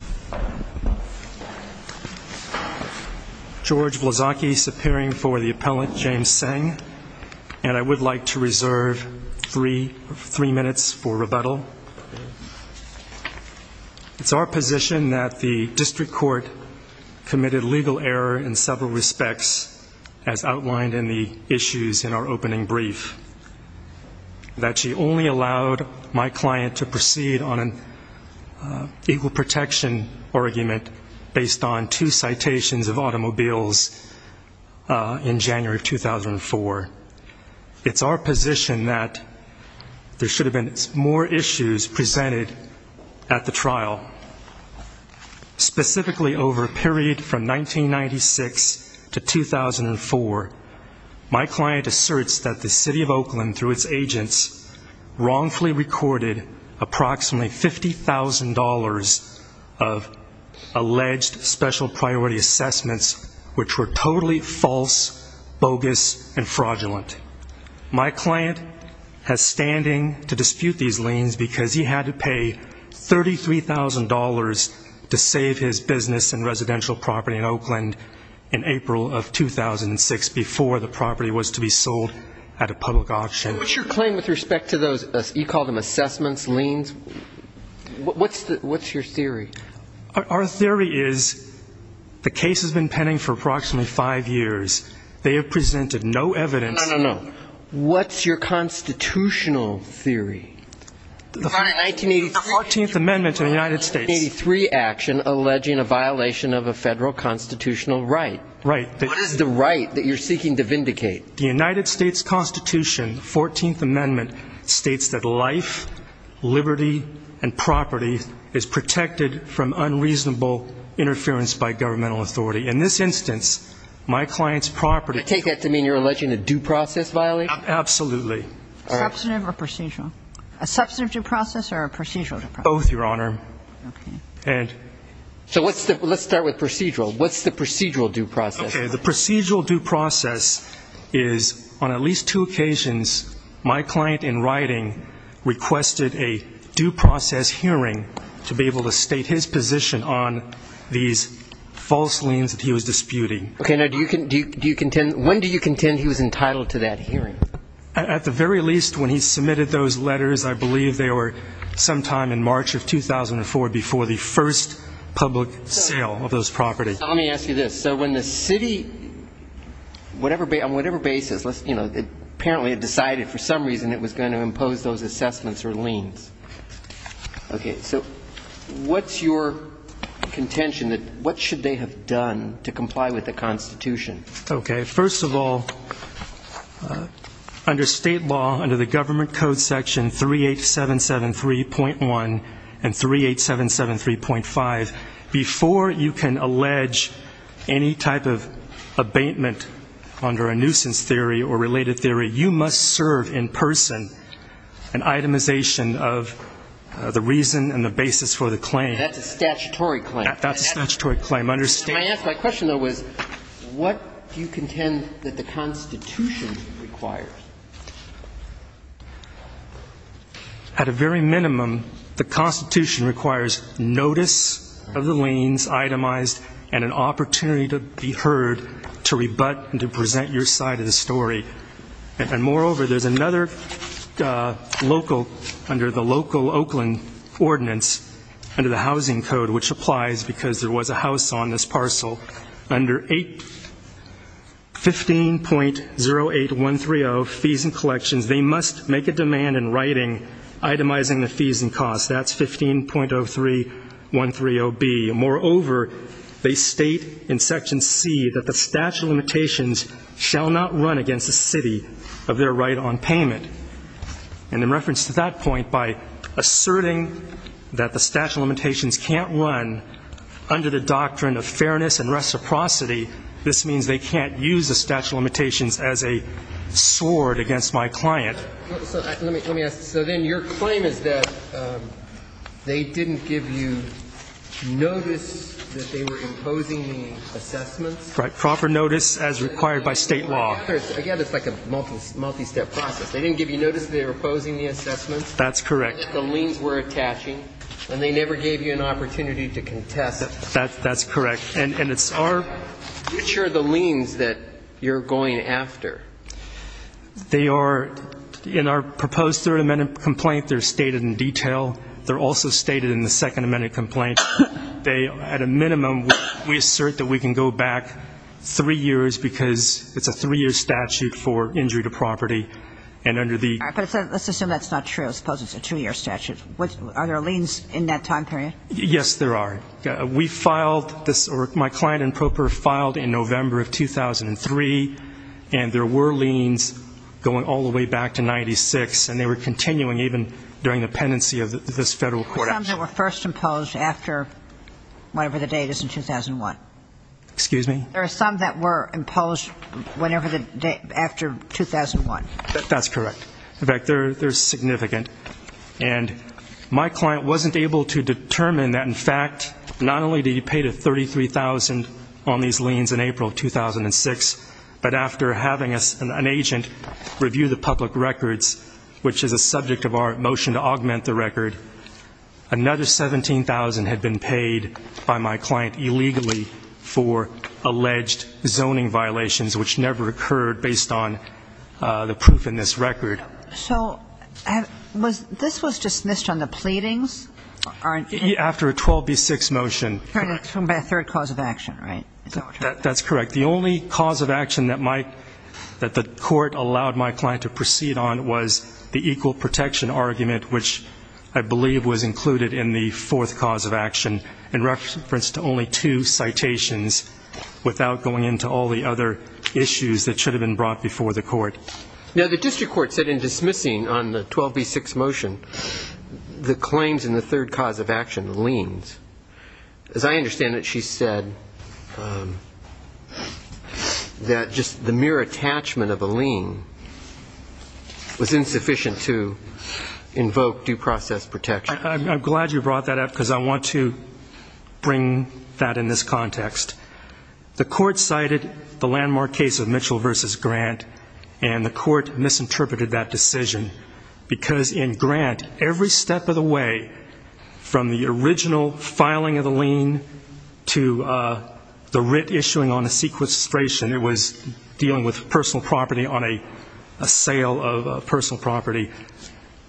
to the court. George Blazaki appearing for the appellant James saying. And I would like to reserve three three minutes for rebuttal. It's our position that the district court. Committed legal error in several respects. As outlined in the issues in our opening brief. That she only allowed my client to proceed on an. Equal protection argument based on two citations of automobiles. In January 2004. It's our position that. There should have been more issues presented at the trial. Specifically over a period from 1996 to 2004. My client asserts that the city of Oakland through its agents. Wrongfully recorded approximately $50,000. Of alleged special priority assessments. Which were totally false bogus and fraudulent. My client has standing to dispute these lanes because he had to pay $33,000. To save his business and residential property in Oakland. In April of 2006 before the property was to be sold. At a public auction claim with respect to those you call them assessments lanes. What's that what's your theory. Our theory is. The case has been pending for approximately five years. They have presented no evidence. What's your constitutional theory. The 14th Amendment to the United States. Three action alleging a violation of a federal constitutional right. Right. The right that you're seeking to vindicate the United States Constitution. 14th Amendment states that life. Liberty and property is protected from unreasonable interference by governmental authority. In this instance. My client's property. I take that to mean you're alleging a due process violation. Absolutely. Substantive or procedural. A substantive due process or a procedural. Both Your Honor. And. So what's the let's start with procedural. What's the procedural due process. The procedural due process. Is on at least two occasions. My client in writing. Requested a due process hearing. To be able to state his position on. These false liens that he was disputing. Okay. Now do you can do you contend. When do you contend he was entitled to that hearing. At the very least when he submitted those letters. I believe they were. Sometime in March of 2004 before the first. Public sale of those properties. Let me ask you this. So when the city. Whatever. On whatever basis. Apparently it decided for some reason. It was going to impose those assessments or liens. Okay. So. What's your. Contention that. What should they have done. To comply with the constitution. Okay. First of all. Under state law. Under the government code section. 38773.1. And 38773.5. Before you can allege. Any type of abatement. Under a nuisance theory or related theory. You must serve in person. An itemization of. The reason and the basis for the claim. That's a statutory claim. That's a statutory claim. Understand. My question though was. What. Do you contend that the constitution. Requires. At a very minimum. The constitution requires. Notice. Of the liens itemized. And an opportunity to be heard. To rebut. And to present your side of the story. And moreover. There's another. Local. Under the local oakland. Ordinance. Under the housing code. Which applies. Because there was a house on this parcel. Under 8. 15. 08. 130. Fees and collections. They must make a demand in writing. Itemizing the fees and costs. That's 15. 03. 130 B. And moreover. They state. In section C. That the statute of limitations. Shall not run against the city. Of their right on payment. And in reference to that point by. Asserting. That the statute of limitations can't run. Under the doctrine of fairness and reciprocity. This means they can't use the statute of limitations as a. Sword against my client. Let me ask. So then your claim is that. They didn't give you. Notice that they were imposing the assessments. Proper notice as required by state law. Again. It's like a multi-step process. They didn't give you notice. They were opposing the assessments. That's correct. The liens were attaching. And they never gave you an opportunity to contest. That's correct. And it's our. Which are the liens that you're going after. They are. In our proposed third amendment complaint. They're stated in detail. They're also stated in the second amendment complaint. They. At a minimum. We assert that we can go back. Three years because it's a three year statute for injury to property. And under the. Let's assume that's not true. Suppose it's a two year statute. Are there liens in that time period? Yes, there are. We filed this. Or my client improper filed in November of 2003. And there were liens. Going all the way back to 96. And they were continuing even during the pendency of this federal court. They were first imposed after. Whenever the date is in 2001. Excuse me. There are some that were imposed whenever the day after 2001. That's correct. In fact, they're significant. And my client wasn't able to determine that. In fact, not only did he pay to 33,000 on these liens in April 2006. But after having an agent review the public records. Which is a subject of our motion to augment the record. Another 17,000 had been paid by my client illegally. For alleged zoning violations. Which never occurred based on the proof in this record. So. This was dismissed on the pleadings? After a 12B6 motion. By a third cause of action, right? That's correct. The only cause of action that the court allowed my client to proceed on was the equal protection argument. Which I believe was included in the fourth cause of action. In reference to only two citations. Without going into all the other issues that should have been brought before the court. Now the district court said in dismissing on the 12B6 motion. The liens. As I understand it, she said. That just the mere attachment of a lien. Was insufficient to invoke due process protection. I'm glad you brought that up because I want to bring that in this context. The court cited the landmark case of Mitchell versus Grant. And the court misinterpreted that decision. Because in Grant, every step of the way. From the original filing of the lien. To the writ issuing on a sequestration. It was dealing with personal property on a sale of personal property.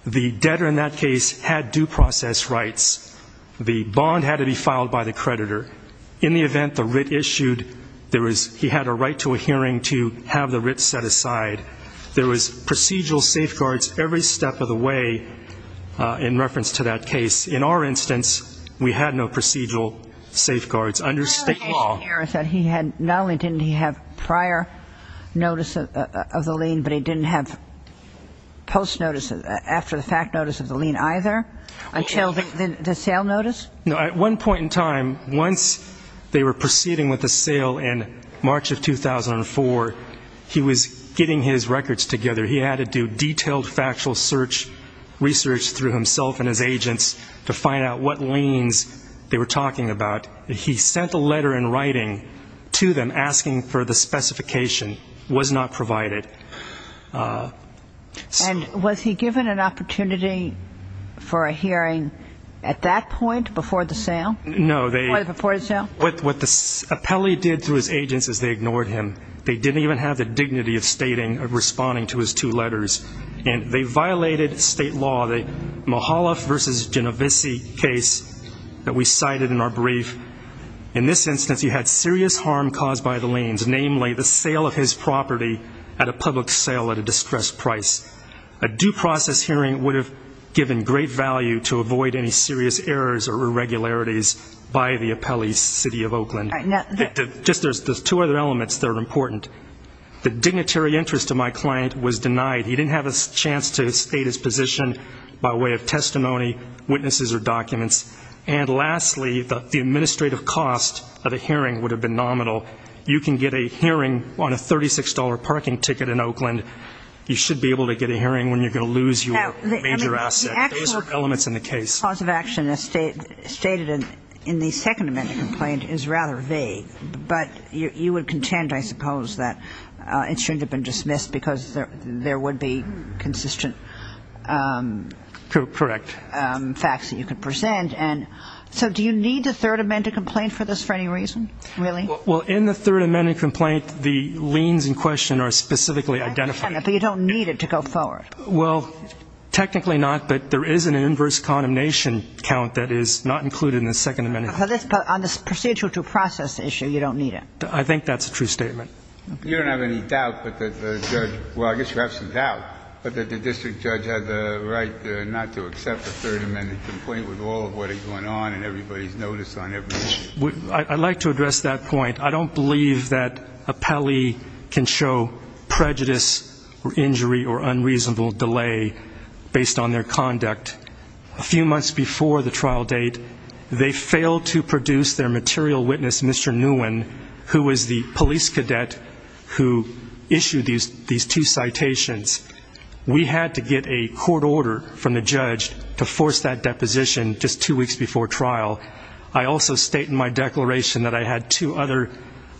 The debtor in that case had due process rights. The bond had to be filed by the creditor. In the event the writ issued. He had a right to a hearing to have the writ set aside. There was procedural safeguards every step of the way. In reference to that case. In our instance, we had no procedural safeguards. Under state law. Not only didn't he have prior notice of the lien. But he didn't have post notice. After the fact notice of the lien either. Until the sale notice. At one point in time. Once they were proceeding with the sale in March of 2004. He was getting his records together. He had to do detailed factual search. Research through himself and his agents. To find out what liens they were talking about. He sent a letter in writing to them. Asking for the specification. Was not provided. And was he given an opportunity for a hearing at that point? Before the sale? No. Before the sale? What the appellee did through his agents is they ignored him. They didn't even have the dignity of stating or responding to his two letters. And they violated state law. The Mahaloff versus Genovese case that we cited in our brief. In this instance, he had serious harm caused by the liens. Namely, the sale of his property at a public sale at a distressed price. A due process hearing would have given great value to avoid any serious errors or irregularities. By the appellee's city of Oakland. Just there's two other elements that are important. The dignitary interest of my client was denied. He didn't have a chance to state his position by way of testimony, witnesses or documents. And lastly, the administrative cost of a hearing would have been nominal. You can get a hearing on a $36 parking ticket in Oakland. You should be able to get a hearing when you're going to lose your major asset. Those are elements in the case. The cause of action as stated in the second amendment complaint is rather vague. But you would contend, I suppose, that it shouldn't have been dismissed because there would be consistent facts that you could present. So do you need the third amendment complaint for this for any reason, really? Well, in the third amendment complaint, the liens in question are specifically identified. But you don't need it to go forward. Well, technically not. But there is an inverse condemnation count that is not included in the second amendment. But on the procedure to process issue, you don't need it. I think that's a true statement. You don't have any doubt that the judge – well, I guess you have some doubt – but that the district judge had the right not to accept the third amendment complaint with all of what is going on and everybody's notice on everything. I'd like to address that point. I don't believe that a pally can show prejudice or injury or unreasonable delay based on their conduct. A few months before the trial date, they failed to produce their material witness, Mr. Nguyen, who was the police cadet who issued these two citations. We had to get a court order from the judge to force that deposition just two weeks before trial. I also state in my declaration that I had two other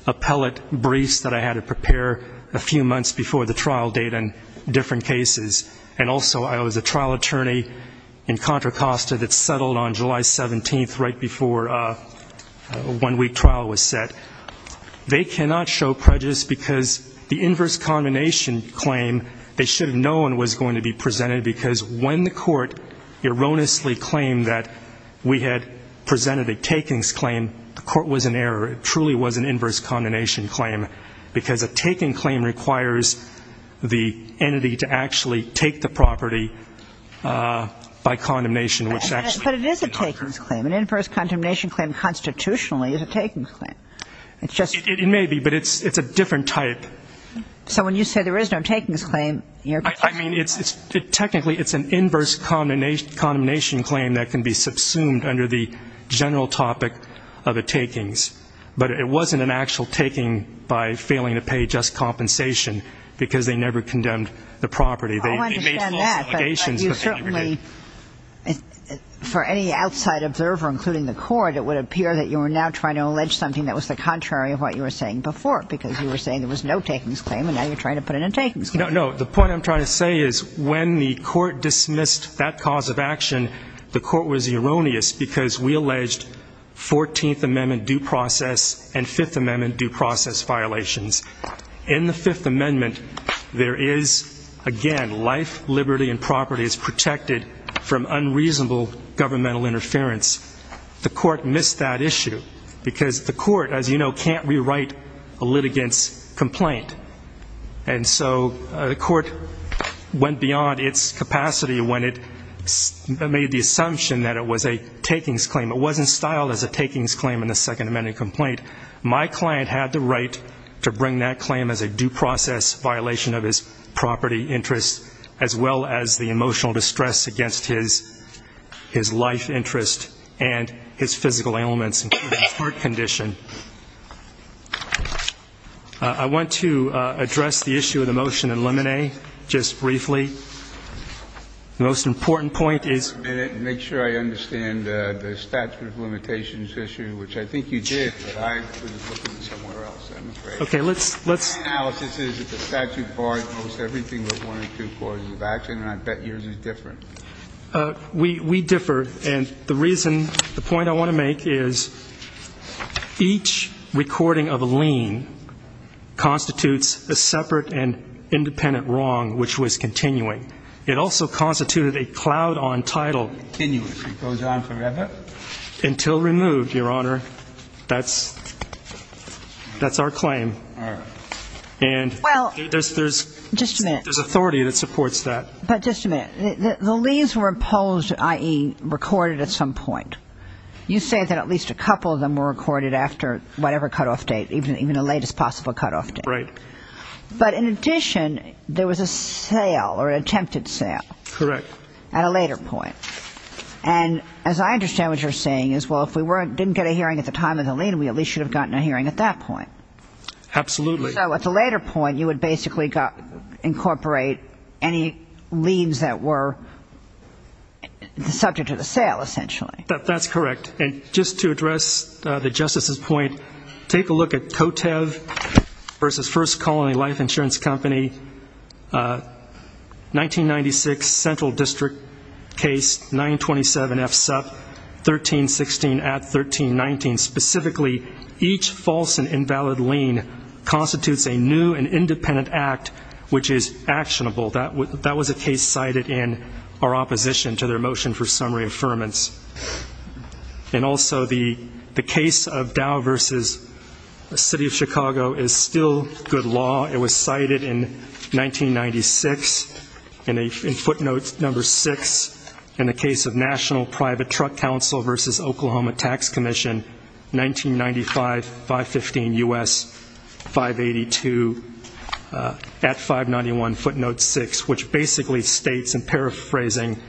appellate briefs that I had to prepare a few months before the trial date in different cases. And also I was a trial attorney in Contra Costa that settled on July 17th right before a one-week trial was set. They cannot show prejudice because the inverse condemnation claim they should have known was going to be presented because when the court erroneously claimed that we had presented a takings claim, the court was in error. It truly was an inverse condemnation claim because a taking claim requires the entity to actually take the property by condemnation. But it is a takings claim. An inverse condemnation claim constitutionally is a takings claim. It may be, but it's a different type. So when you say there is no takings claim, you're – I mean, technically it's an inverse condemnation claim that can be subsumed under the general topic of a takings. But it wasn't an actual taking by failing to pay just compensation because they never condemned the property. They made false allegations. I understand that, but you certainly – for any outside observer, including the court, it would appear that you are now trying to allege something that was the contrary of what you were saying before because you were saying there was no takings claim and now you're trying to put in a takings claim. No, no. The point I'm trying to say is when the court dismissed that cause of action, the court was erroneous because we alleged 14th Amendment due process and 5th Amendment due process violations. In the Fifth Amendment, there is, again, life, liberty, and property is protected from unreasonable governmental interference. The court missed that issue because the court, as you know, can't rewrite a litigant's complaint. And so the court went beyond its capacity when it made the assumption that it was a takings claim. It wasn't styled as a takings claim in the Second Amendment complaint. My client had the right to bring that claim as a due process violation of his property interests as well as the emotional distress against his life interest and his physical ailments, including his heart condition. I want to address the issue of the motion and eliminate just briefly. The most important point is make sure I understand the statute of limitations issue, which I think you did, but I put it somewhere else. I'm afraid. Okay, let's let's. The analysis is that the statute bars most everything but one or two causes of action, and I bet yours is different. We differ. And the reason, the point I want to make is each recording of a lien constitutes a separate and independent wrong, which was continuing. It also constituted a cloud on title. Continuously. Goes on forever. Until removed, Your Honor. That's our claim. All right. And there's authority that supports that. But just a minute. The liens were imposed, i.e., recorded at some point. You say that at least a couple of them were recorded after whatever cutoff date, even the latest possible cutoff date. Right. But in addition, there was a sale or attempted sale. Correct. At a later point. And as I understand what you're saying is, well, if we didn't get a hearing at the time of the lien, we at least should have gotten a hearing at that point. Absolutely. So at the later point, you would basically incorporate any liens that were subject to the sale, essentially. That's correct. And just to address the Justice's point, take a look at Cotev v. First Colony Life Insurance Company, 1996 Central District case, 927 F. Supp., 1316 at 1319. And specifically, each false and invalid lien constitutes a new and independent act which is actionable. That was a case cited in our opposition to their motion for summary affirmance. And also the case of Dow v. City of Chicago is still good law. It was cited in 1996 in footnote number 6 in the case of National Private Truck Council v. Oklahoma Tax Commission, 1995, 515 U.S., 582 at 591 footnote 6, which basically states in paraphrasing,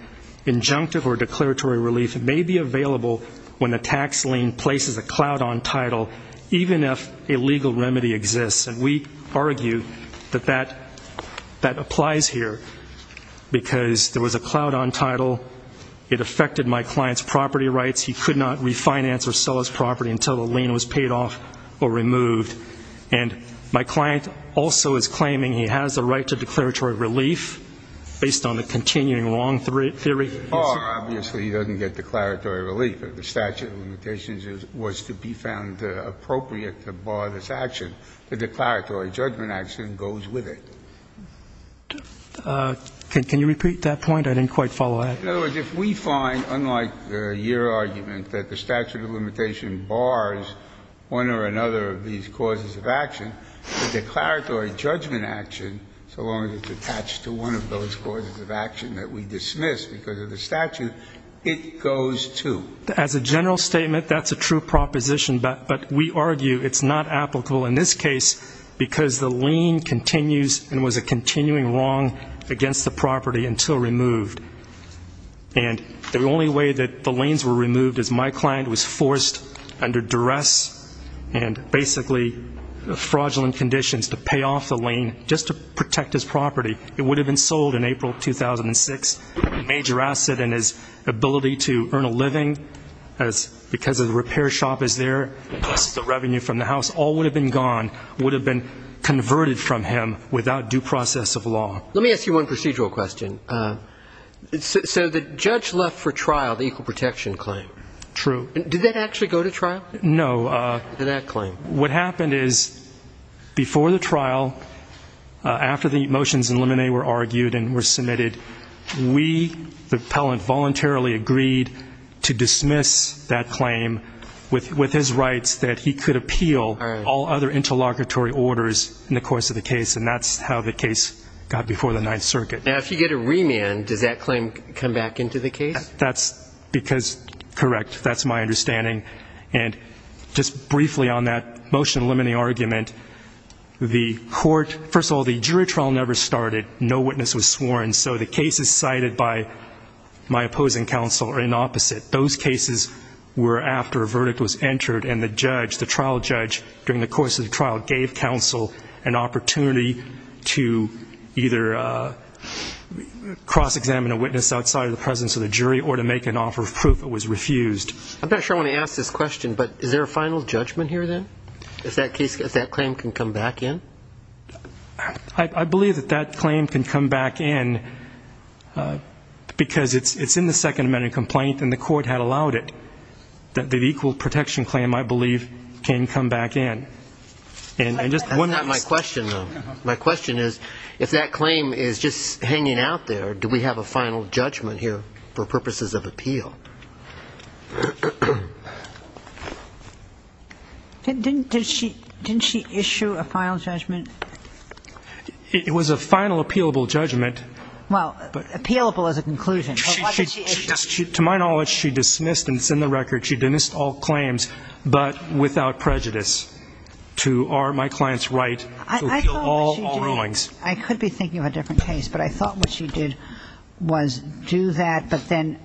injunctive or declaratory relief may be available when the tax lien places a cloud on title, even if a legal remedy exists. And we argue that that applies here because there was a cloud on title. It affected my client's property rights. He could not refinance or sell his property until the lien was paid off or removed. And my client also is claiming he has the right to declaratory relief based on the continuing wrong theory. Obviously, he doesn't get declaratory relief. The statute of limitations was to be found appropriate to bar this action. The declaratory judgment action goes with it. Can you repeat that point? I didn't quite follow it. In other words, if we find, unlike your argument, that the statute of limitation bars one or another of these causes of action, the declaratory judgment action, so long as it's attached to one of those causes of action that we dismiss because of the statute, it goes, too. As a general statement, that's a true proposition, but we argue it's not applicable in this case because the lien continues and was a continuing wrong against the property until removed. And the only way that the liens were removed is my client was forced under duress and basically fraudulent conditions to pay off the lien just to protect his property. It would have been sold in April 2006, a major asset in his ability to earn a living because the repair shop is there, plus the revenue from the house, all would have been gone, would have been converted from him without due process of law. Let me ask you one procedural question. So the judge left for trial the equal protection claim. True. Did that actually go to trial? No. Did that claim? What happened is before the trial, after the motions in limine were argued and were submitted, we, the appellant, voluntarily agreed to dismiss that claim with his rights that he could appeal all other interlocutory orders in the course of the case, and that's how the case got before the Ninth Circuit. Now, if you get a remand, does that claim come back into the case? That's because, correct, that's my understanding. And just briefly on that motion in limine argument, the court, first of all, the jury trial never started. No witness was sworn. So the cases cited by my opposing counsel are inopposite. Those cases were after a verdict was entered and the judge, the trial judge, during the course of the trial gave counsel an opportunity to either cross-examine a witness outside of the presence of the jury or to make an offer of proof that was refused. I'm not sure I want to ask this question, but is there a final judgment here, then, if that claim can come back in? I believe that that claim can come back in because it's in the Second Amendment complaint and the court had allowed it, that the equal protection claim, I believe, can come back in. That's not my question, though. My question is if that claim is just hanging out there, do we have a final judgment here for purposes of appeal? Didn't she issue a final judgment? It was a final appealable judgment. Well, appealable is a conclusion. To my knowledge, she dismissed, and it's in the record, she dismissed all claims but without prejudice to are my clients right to appeal all rulings. I could be thinking of a different case, but I thought what she did was do that, but then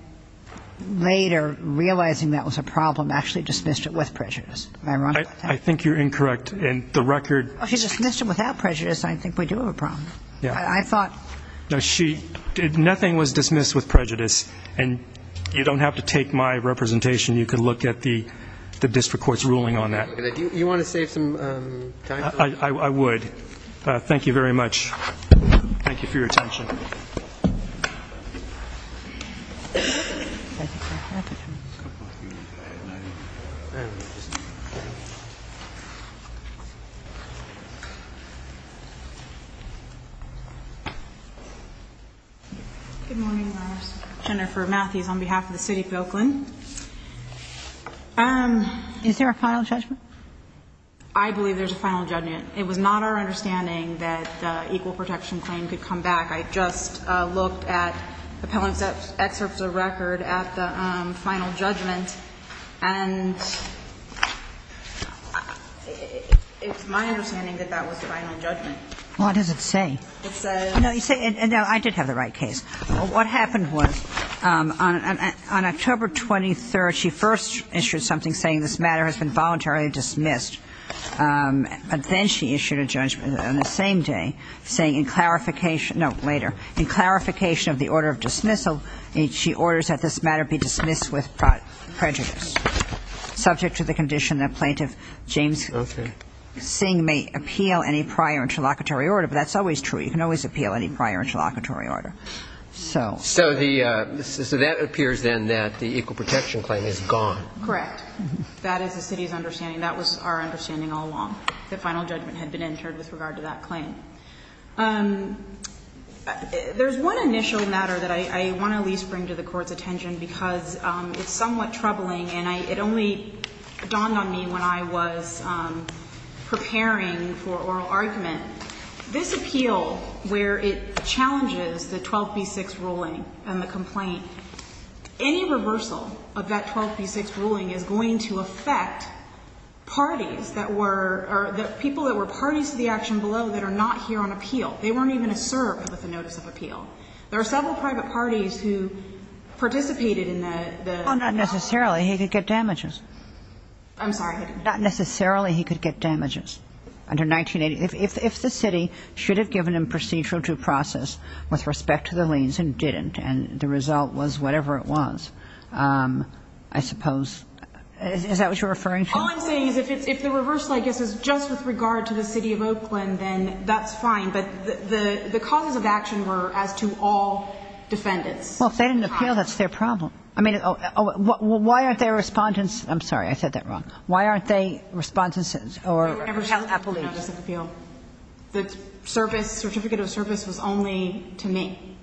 later, realizing that was a problem, actually dismissed it with prejudice. Ironically. I think you're incorrect. In the record. She dismissed it without prejudice. I think we do have a problem. Yeah. I thought. No, she, nothing was dismissed with prejudice, and you don't have to take my representation. You can look at the district court's ruling on that. Do you want to save some time for that? I would. Thank you very much. Thank you for your attention. Thank you. Thank you for your attention. Good morning. Jennifer Matthews on behalf of the city of Oakland. Is there a final judgment? I believe there's a final judgment. It was not our understanding that the equal protection claim could come back. I just looked at appellant's excerpts of the record at the final judgment, and it's my understanding that that was the final judgment. What does it say? It says. No, I did have the right case. What happened was on October 23rd, she first issued something saying this matter has been voluntarily dismissed. But then she issued a judgment on the same day saying in clarification, no, later, in clarification of the order of dismissal, she orders that this matter be dismissed with prejudice, subject to the condition that plaintiff James Singh may appeal any prior interlocutory order. But that's always true. You can always appeal any prior interlocutory order. So. So the, so that appears then that the equal protection claim is gone. Correct. That is the city's understanding. That was our understanding all along. The final judgment had been entered with regard to that claim. There's one initial matter that I want to at least bring to the Court's attention because it's somewhat troubling, and it only dawned on me when I was preparing for oral argument. This appeal, where it challenges the 12B6 ruling and the complaint, any reversal of that 12B6 ruling is going to affect parties that were, or people that were parties to the action below that are not here on appeal. They weren't even served with the notice of appeal. There are several private parties who participated in the, the. Well, not necessarily. He could get damages. I'm sorry. Not necessarily he could get damages under 1980. If the city should have given him procedural due process with respect to the liens and didn't, and the result was whatever it was. I suppose. Is that what you're referring to? All I'm saying is if the reversal, I guess, is just with regard to the city of Oakland, then that's fine. But the causes of action were as to all defendants. Well, if they didn't appeal, that's their problem. I mean, why aren't there respondents? I'm sorry. I said that wrong. Why aren't there respondents or... They were never held appellate notice of appeal. The service, certificate of service was only to me.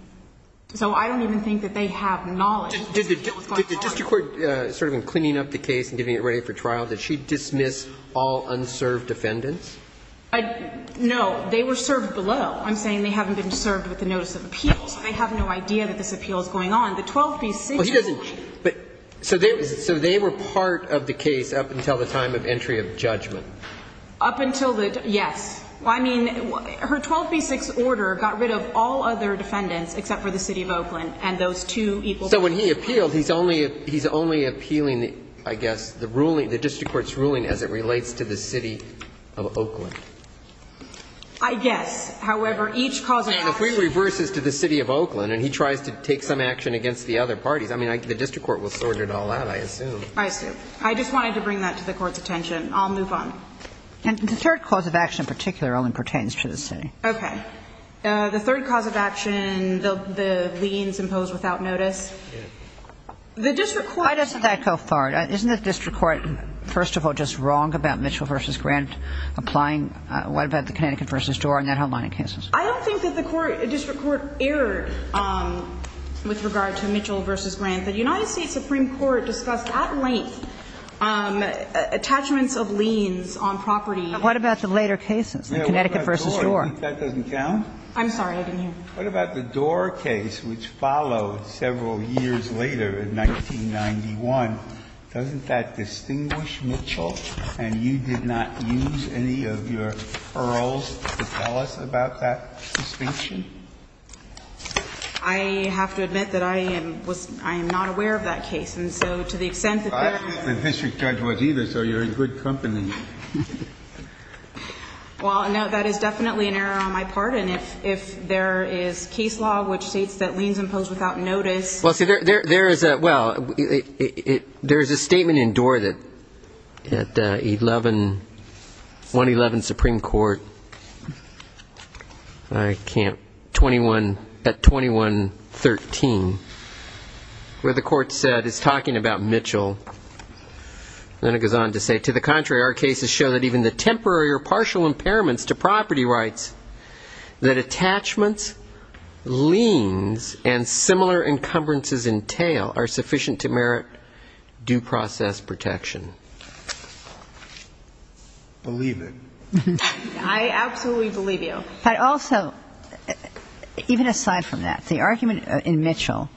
So I don't even think that they have knowledge. Did the district court, sort of in cleaning up the case and getting it ready for trial, did she dismiss all unserved defendants? No. They were served below. I'm saying they haven't been served with the notice of appeal. So they have no idea that this appeal is going on. The 12B6... So they were part of the case up until the time of entry of judgment? Up until the... Yes. I mean, her 12B6 order got rid of all other defendants except for the city of Oakland and those two equal parties. So when he appealed, he's only appealing, I guess, the ruling, the district court's ruling as it relates to the city of Oakland. I guess. However, each cause of action... And if he reverses to the city of Oakland and he tries to take some action against the other parties, I mean, the district court will sort it all out, I assume. I assume. I just wanted to bring that to the Court's attention. I'll move on. And the third cause of action in particular only pertains to the city. Okay. The third cause of action, the liens imposed without notice. Yes. The district court... Why doesn't that go far? Isn't the district court, first of all, just wrong about Mitchell v. Grant applying what about the Connecticut v. Doar and that whole line of cases? I don't think that the district court erred with regard to Mitchell v. Grant. The United States Supreme Court discussed at length attachments of liens on property. What about the later cases, the Connecticut v. Doar? That doesn't count? I'm sorry, I didn't hear. What about the Doar case, which followed several years later in 1991? Doesn't that distinguish Mitchell? And you did not use any of your earls to tell us about that distinction? I have to admit that I am not aware of that case. And so to the extent that there are... I didn't think the district judge was either, so you're in good company. Well, no, that is definitely an error on my part. And if there is case law which states that liens impose without notice... Well, see, there is a statement in Doar that at 111 Supreme Court, I can't... at 2113, where the court said it's talking about Mitchell. Then it goes on to say, To the contrary, our cases show that even the temporary or partial impairments to property rights that attachments, liens, and similar encumbrances entail are sufficient to merit due process protection. Believe it. I absolutely believe you. But also, even aside from that, the argument in Mitchell,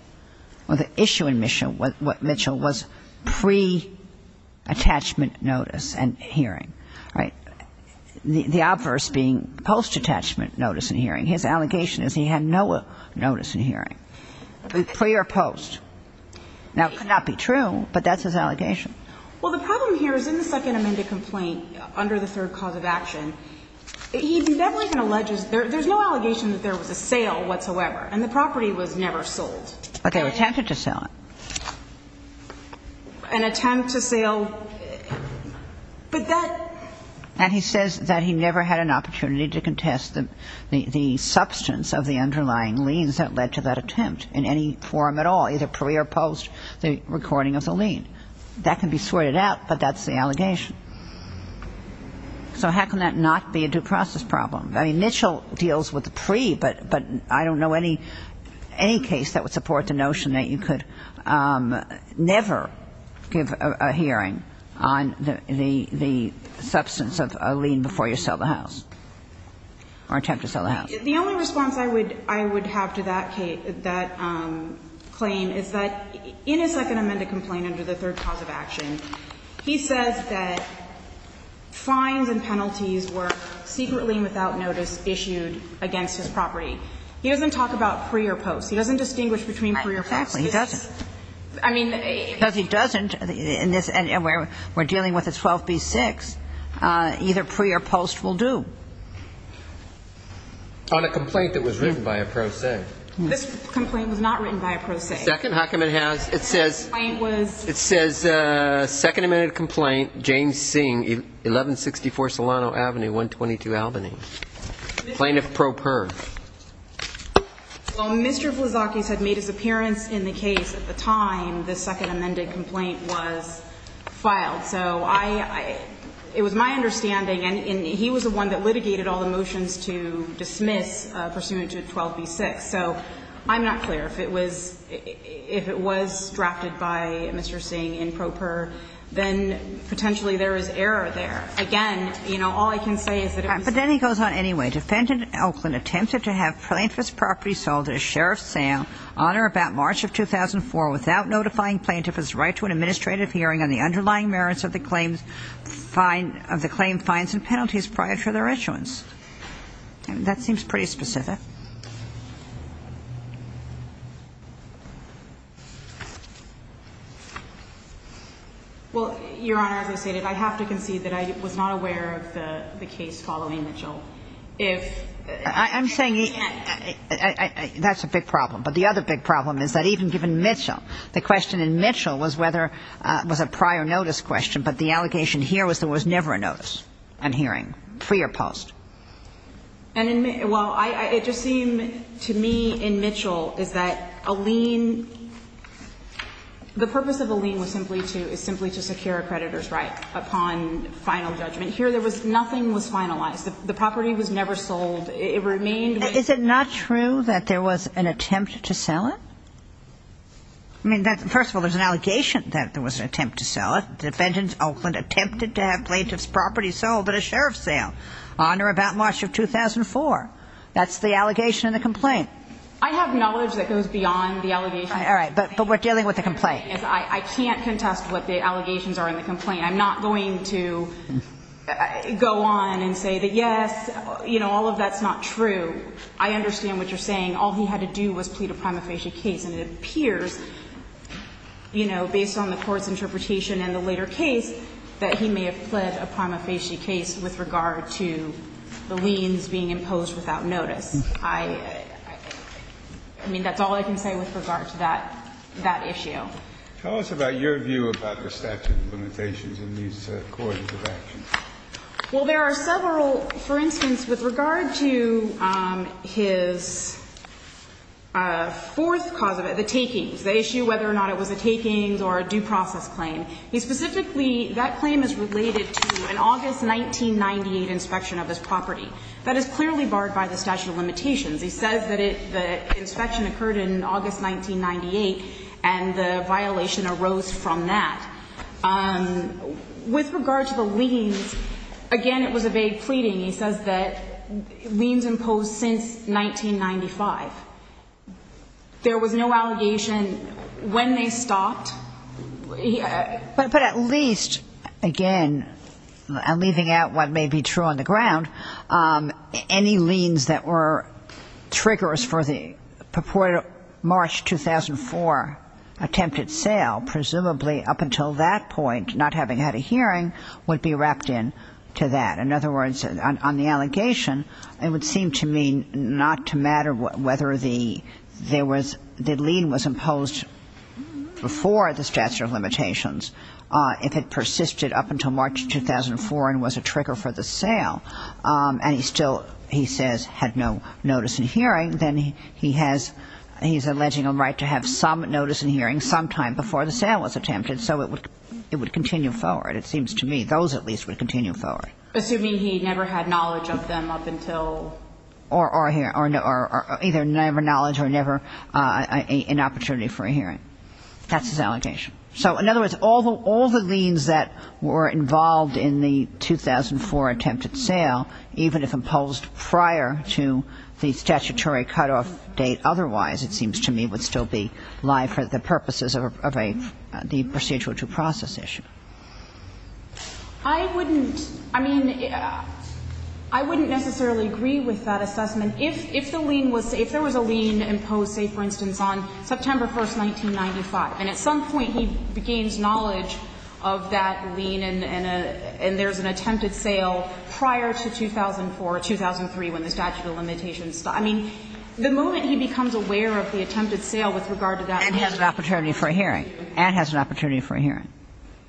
well, the issue in Mitchell was pre-attachment notice and hearing, right? The obverse being post-attachment notice and hearing. His allegation is he had no notice in hearing, pre or post. Now, it could not be true, but that's his allegation. Well, the problem here is in the second amended complaint under the third cause of action, he definitely alleges, there's no allegation that there was a sale whatsoever, and the property was never sold. But they attempted to sell it. An attempt to sale... But that... And he says that he never had an opportunity to contest the substance of the underlying liens that led to that attempt in any form at all, either pre or post the recording of the lien. That can be sorted out, but that's the allegation. So how can that not be a due process problem? I mean, Mitchell deals with the pre, but I don't know any case that would support the notion that you could never give a hearing on the substance of a lien before you sell the house or attempt to sell the house. The only response I would have to that claim is that in his second amended complaint under the third cause of action, he says that fines and penalties were secretly and without notice issued against his property. He doesn't talk about pre or post. He doesn't distinguish between pre or post. Exactly. He doesn't. I mean... Because he doesn't. And we're dealing with a 12b-6. Either pre or post will do. On a complaint that was written by a pro se. This complaint was not written by a pro se. Second Huckabee has... It says... The complaint was... It says second amended complaint, James Singh, 1164 Solano Avenue, 122 Albany. Plaintiff pro per. Well, Mr. Vlazakis had made his appearance in the case at the time the second amended complaint was filed. So I... It was my understanding. And he was the one that litigated all the motions to dismiss pursuant to 12b-6. So I'm not clear. If it was... If it was drafted by Mr. Singh in pro per, then potentially there is error there. Again, you know, all I can say is that... The complaint goes on anyway. Defendant Elklin attempted to have plaintiff's property sold at a sheriff's sale on or about March of 2004 without notifying plaintiff of his right to an administrative hearing on the underlying merits of the claim fines and penalties prior to their issuance. That seems pretty specific. Well, Your Honor, as I stated, I have to concede that I was not aware of the case following Mitchell. If... I'm saying... That's a big problem. But the other big problem is that even given Mitchell, the question in Mitchell was whether it was a prior notice question, but the allegation here was there was never a notice on hearing, pre or post. And in... Well, it just seemed to me in Mitchell is that a lien... The purpose of a lien was simply to... Is simply to secure a creditor's right upon final judgment. Here there was nothing was finalized. The property was never sold. It remained... Is it not true that there was an attempt to sell it? I mean, first of all, there's an allegation that there was an attempt to sell it. Defendant Elklin attempted to have plaintiff's property sold at a sheriff's sale on or about March of 2004. That's the allegation in the complaint. I have knowledge that goes beyond the allegation. All right. But we're dealing with a complaint. I can't contest what the allegations are in the complaint. I mean, I'm not going to go on and say that, yes, you know, all of that's not true. I understand what you're saying. All he had to do was plead a prima facie case. And it appears, you know, based on the court's interpretation in the later case, that he may have pled a prima facie case with regard to the liens being imposed without notice. I mean, that's all I can say with regard to that issue. Tell us about your view about the statute of limitations in these courts of action. Well, there are several. For instance, with regard to his fourth cause of it, the takings, the issue whether or not it was a takings or a due process claim, he specifically – that claim is related to an August 1998 inspection of his property. That is clearly barred by the statute of limitations. He says that the inspection occurred in August 1998 and the violation arose from that. With regard to the liens, again, it was a vague pleading. He says that liens imposed since 1995. There was no allegation when they stopped. But at least, again, leaving out what may be true on the ground, any liens that were triggers for the purported March 2004 attempted sale, presumably up until that point, not having had a hearing, would be wrapped in to that. In other words, on the allegation, it would seem to me not to matter whether the lien was imposed before the statute of limitations if it persisted up until March 2004 and was a trigger for the sale. And he still, he says, had no notice in hearing. Then he has – he's alleging a right to have some notice in hearing sometime before the sale was attempted. So it would continue forward, it seems to me. Those at least would continue forward. Or either never knowledge or never an opportunity for a hearing. That's his allegation. So in other words, all the liens that were involved in the 2004 attempted sale, even if imposed prior to the statutory cutoff date otherwise, it seems to me, would still be live for the purposes of a – the procedural due process issue. I wouldn't – I mean, I wouldn't necessarily agree with that assessment. If the lien was – if there was a lien imposed, say, for instance, on September 1st, 1995, and at some point he gains knowledge of that lien and there's an attempted sale prior to 2004 or 2003 when the statute of limitations stopped. I mean, the moment he becomes aware of the attempted sale with regard to that lien and has an opportunity for a hearing. And has an opportunity for a hearing.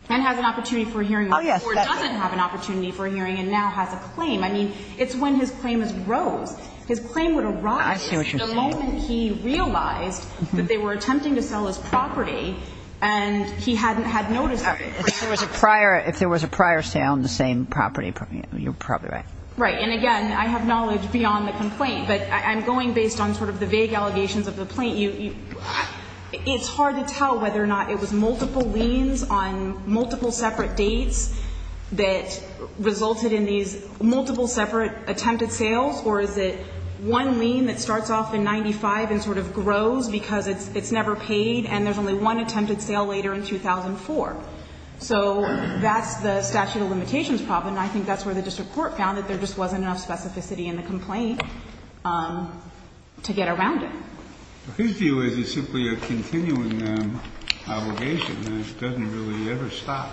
And has an opportunity for a hearing or doesn't have an opportunity for a hearing and now has a claim. I mean, it's when his claim is rose. His claim would arise the moment he realized that there were attempted sales. He was attempting to sell his property and he hadn't had notice of it. If there was a prior – if there was a prior sale on the same property, you're probably right. Right. And again, I have knowledge beyond the complaint. But I'm going based on sort of the vague allegations of the plaintiff. It's hard to tell whether or not it was multiple liens on multiple separate dates that resulted in these multiple separate attempted sales, or is it one lien that starts off in 95 and sort of grows because it's never paid and there's only one attempted sale later in 2004? So that's the statute of limitations problem. And I think that's where the district court found that there just wasn't enough specificity in the complaint to get around it. But his view is it's simply a continuing obligation. It doesn't really ever stop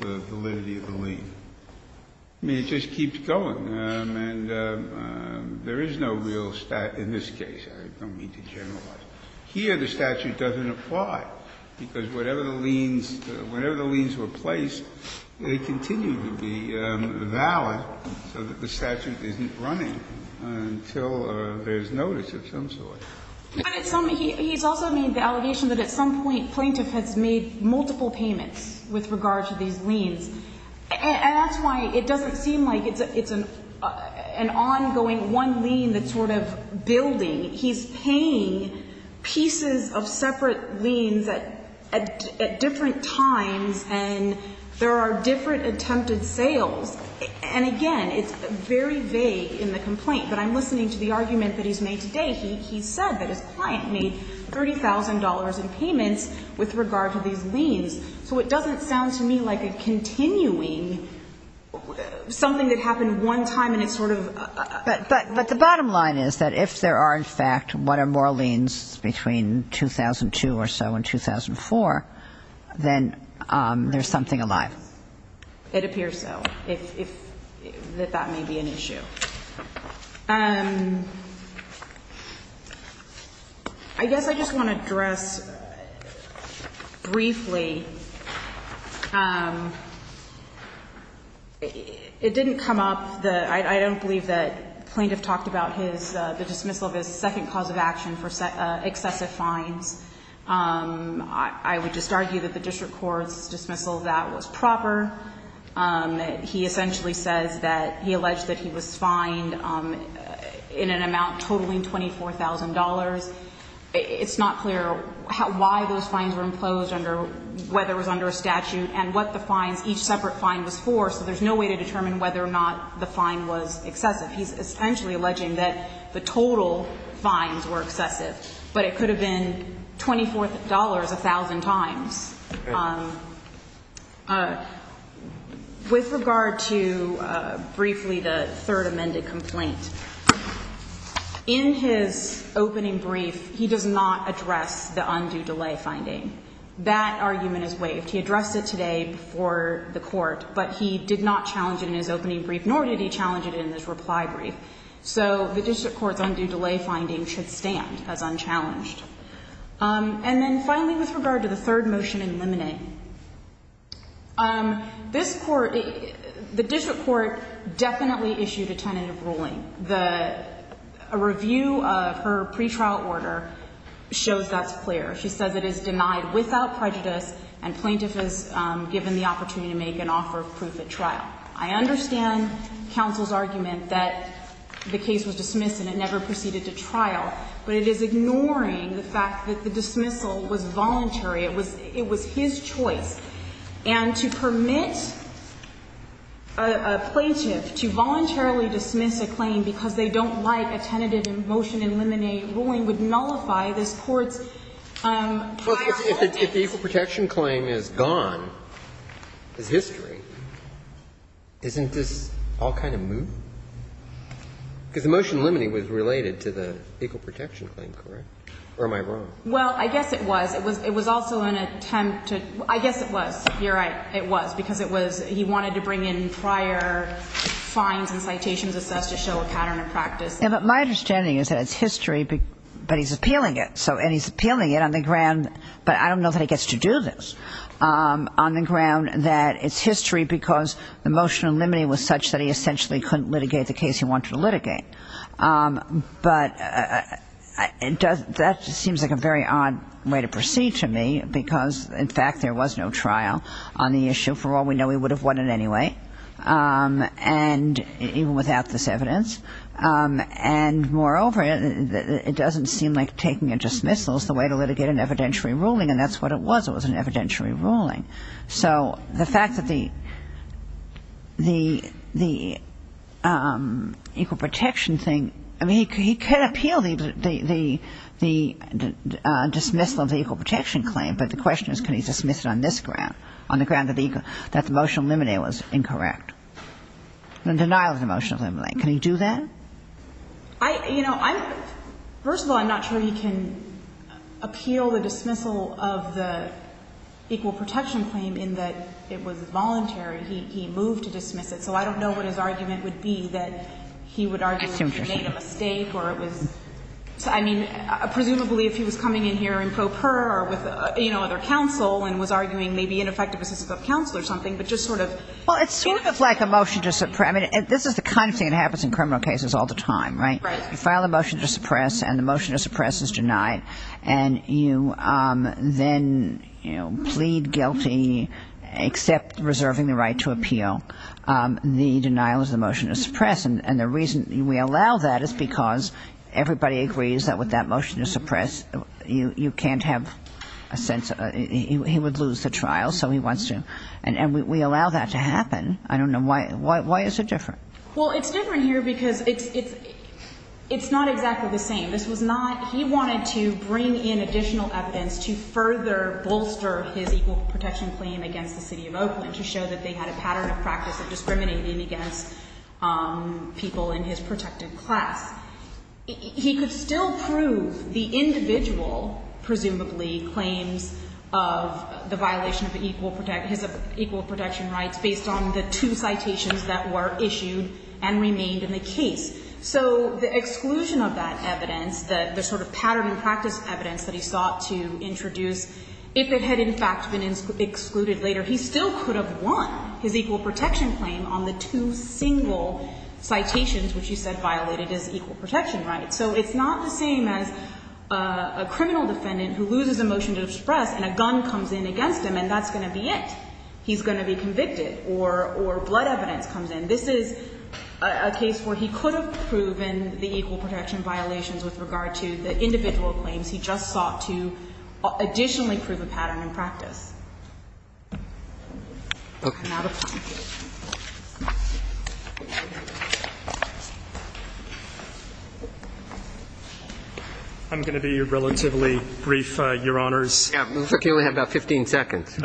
the validity of the lien. I mean, it just keeps going. And there is no real – in this case. I don't mean to generalize. Here the statute doesn't apply because whatever the liens – whenever the liens were placed, they continue to be valid so that the statute isn't running until there's notice of some sort. But at some – he's also made the allegation that at some point plaintiff has made multiple payments with regard to these liens. And that's why it doesn't seem like it's an ongoing one lien that's sort of building. He's paying pieces of separate liens at different times and there are different attempted sales. And again, it's very vague in the complaint. But I'm listening to the argument that he's made today. He said that his client made $30,000 in payments with regard to these liens. So it doesn't sound to me like a continuing something that happened one time and it's sort of – But the bottom line is that if there are, in fact, one or more liens between 2002 or so and 2004, then there's something alive. It appears so, if that may be an issue. I guess I just want to address briefly. It didn't come up. I don't believe that plaintiff talked about his – the dismissal of his second cause of action for excessive fines. I would just argue that the district court's dismissal of that was proper. He essentially says that – he alleged that he was fined in an amount totaling $24,000. It's not clear why those fines were imposed under – whether it was under a statute and what the fines – each separate fine was for. So there's no way to determine whether or not the fine was excessive. He's essentially alleging that the total fines were excessive. But it could have been $24,000 a thousand times. With regard to, briefly, the third amended complaint, in his opening brief, he does not address the undue delay finding. That argument is waived. He addressed it today before the court, but he did not challenge it in his opening brief, nor did he challenge it in his reply brief. So the district court's undue delay finding should stand as unchallenged. And then, finally, with regard to the third motion in limine, this court – the district court definitely issued a tentative ruling. The – a review of her pretrial order shows that's clear. She says it is denied without prejudice and plaintiff is given the opportunity to make an offer of proof at trial. I understand counsel's argument that the case was dismissed and it never proceeded to trial, but it is ignoring the fact that the dismissal was voluntary. It was – it was his choice. And to permit a plaintiff to voluntarily dismiss a claim because they don't like a tentative motion in limine ruling would nullify this court's prior holdings. But if the equal protection claim is gone, is history, isn't this all kind of moot? Because the motion in limine was related to the equal protection claim, correct? Or am I wrong? Well, I guess it was. It was also an attempt to – I guess it was. You're right. It was, because it was – he wanted to bring in prior fines and citations assessed to show a pattern of practice. Yeah, but my understanding is that it's history, but he's appealing it. So – and he's appealing it on the ground, but I don't know that he gets to do this, on the ground that it's history because the motion in limine was such that he essentially couldn't litigate the case he wanted to litigate. But that seems like a very odd way to proceed to me because, in fact, there was no trial on the issue. For all we know, he would have won it anyway, and even without this evidence. And moreover, it doesn't seem like taking a dismissal is the way to litigate an evidentiary ruling, and that's what it was. It was an evidentiary ruling. So the fact that the equal protection thing – I mean, he can appeal the dismissal of the equal protection claim, but the question is can he dismiss it on this ground, on the ground that the motion in limine was incorrect, the denial of the motion in limine. Can he do that? I – you know, I'm – first of all, I'm not sure he can appeal the dismissal of the equal protection claim in that it was voluntary. He moved to dismiss it. So I don't know what his argument would be that he would argue he made a mistake or it was – I mean, presumably if he was coming in here in pro per or with, you know, other counsel and was arguing maybe ineffective assistance of counsel or something, but just sort of – Well, it's sort of like a motion to suppress. I mean, this is the kind of thing that happens in criminal cases all the time, right? Right. You file a motion to suppress, and the motion to suppress is denied. And you then, you know, plead guilty except reserving the right to appeal. The denial is the motion to suppress. And the reason we allow that is because everybody agrees that with that motion to suppress, you can't have a sense – he would lose the trial, so he wants to. And we allow that to happen. I don't know why. Why is it different? Well, it's different here because it's not exactly the same. This was not – he wanted to bring in additional evidence to further bolster his equal protection claim against the city of Oakland to show that they had a pattern of practice of discriminating against people in his protected class. He could still prove the individual, presumably, claims of the violation of equal – his equal protection rights based on the two citations that were issued and remained in the case. So the exclusion of that evidence, the sort of pattern and practice evidence that he sought to introduce, if it had in fact been excluded later, he still could have won his equal protection claim on the two single citations which he said violated his equal protection rights. So it's not the same as a criminal defendant who loses a motion to suppress and a gun comes in against him, and that's going to be it. He's going to be convicted. Or blood evidence comes in. This is a case where he could have proven the equal protection violations with regard to the individual claims. He just sought to additionally prove a pattern in practice. Okay. I'm going to be relatively brief, Your Honors. You only have about 15 seconds.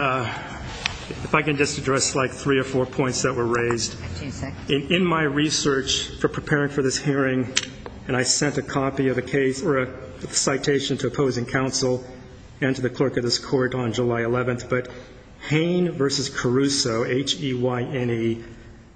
If I can just address, like, three or four points that were raised. 15 seconds. In my research for preparing for this hearing, and I sent a copy of a case or a citation to opposing counsel and to the clerk of this court on July 11th, but Hain v. Caruso, H-E-Y-N-E,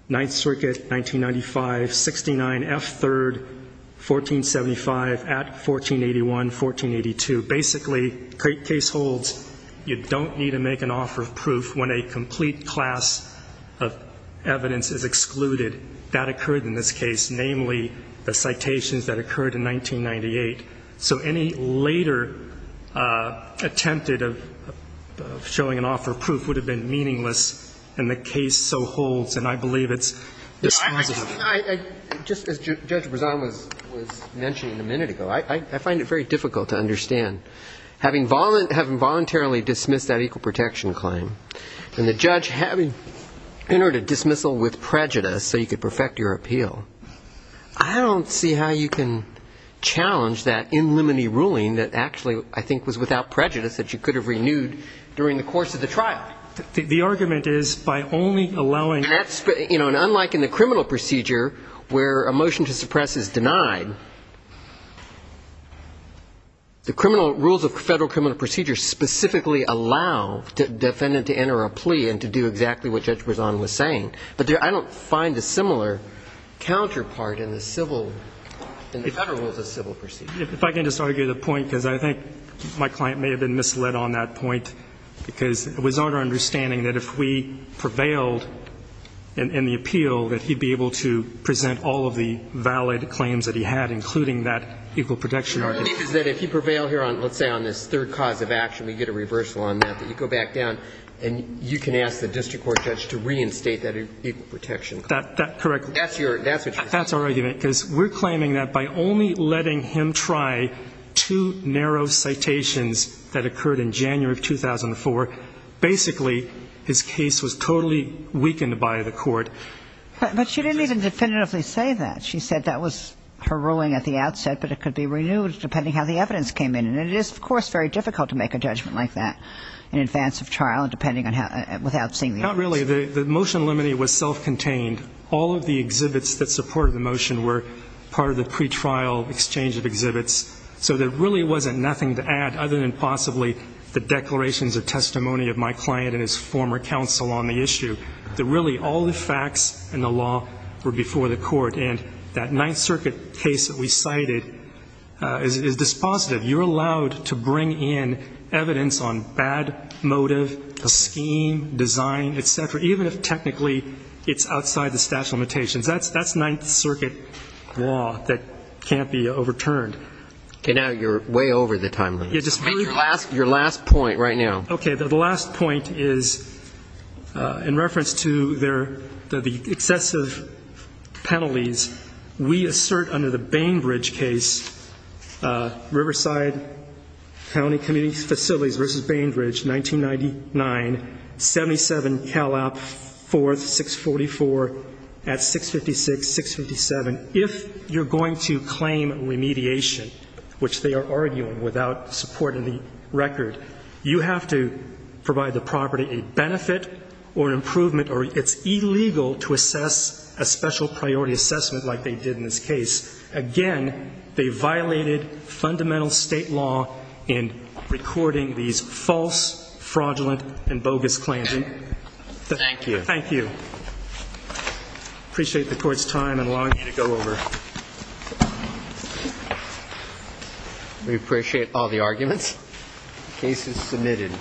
Ninth Circuit, 1995, 69, F-3, 1475, at 1481, 1482. Basically, the case holds you don't need to make an offer of proof when a complete class of evidence is excluded. That occurred in this case, namely the citations that occurred in 1998. So any later attempted of showing an offer of proof would have been meaningless, and the case so holds, and I believe it's dispositive. Just as Judge Brezan was mentioning a minute ago, I find it very difficult to understand. Having voluntarily dismissed that equal protection claim, and the judge having entered a dismissal with prejudice so you could perfect your appeal, I don't see how you can challenge that in limine ruling that actually I think was without prejudice that you could have renewed during the course of the trial. The argument is by only allowing. And unlike in the criminal procedure where a motion to suppress is denied, the rules of federal criminal procedure specifically allow the defendant to enter a plea and to do exactly what Judge Brezan was saying. But I don't find a similar counterpart in the federal rules of civil procedure. If I can just argue the point, because I think my client may have been misled on that point, because it was not our understanding that if we prevailed in the appeal that he'd be able to present all of the valid claims that he had, including that equal protection argument. But my belief is that if you prevail here on, let's say, on this third cause of action, we get a reversal on that, that you go back down and you can ask the district court judge to reinstate that equal protection claim. That's correct. That's what you're saying. That's our argument, because we're claiming that by only letting him try two narrow citations that occurred in January of 2004, basically his case was totally weakened by the court. But she didn't even definitively say that. She said that was her ruling at the outset, but it could be renewed depending on how the evidence came in. And it is, of course, very difficult to make a judgment like that in advance of trial and depending on how, without seeing the evidence. Not really. The motion limiting was self-contained. All of the exhibits that supported the motion were part of the pretrial exchange of exhibits. So there really wasn't nothing to add other than possibly the declarations of testimony of my client and his former counsel on the issue. Really, all the facts in the law were before the court. And that Ninth Circuit case that we cited is dispositive. You're allowed to bring in evidence on bad motive, the scheme, design, et cetera, even if technically it's outside the statute of limitations. That's Ninth Circuit law that can't be overturned. Okay. Now you're way over the time limit. Your last point right now. Okay. The last point is in reference to the excessive penalties, we assert under the Bainbridge case, Riverside County Community Facilities v. Bainbridge, 1999, 77 Calop 4, 644, at 656, 657. If you're going to claim remediation, which they are arguing without support in the record, you have to provide the property a benefit or improvement or it's illegal to assess a special priority assessment like they did in this case. Again, they violated fundamental State law in recording these false, fraudulent and bogus claims. Thank you. Thank you. Appreciate the Court's time and allowing me to go over. We appreciate all the arguments. The case is submitted.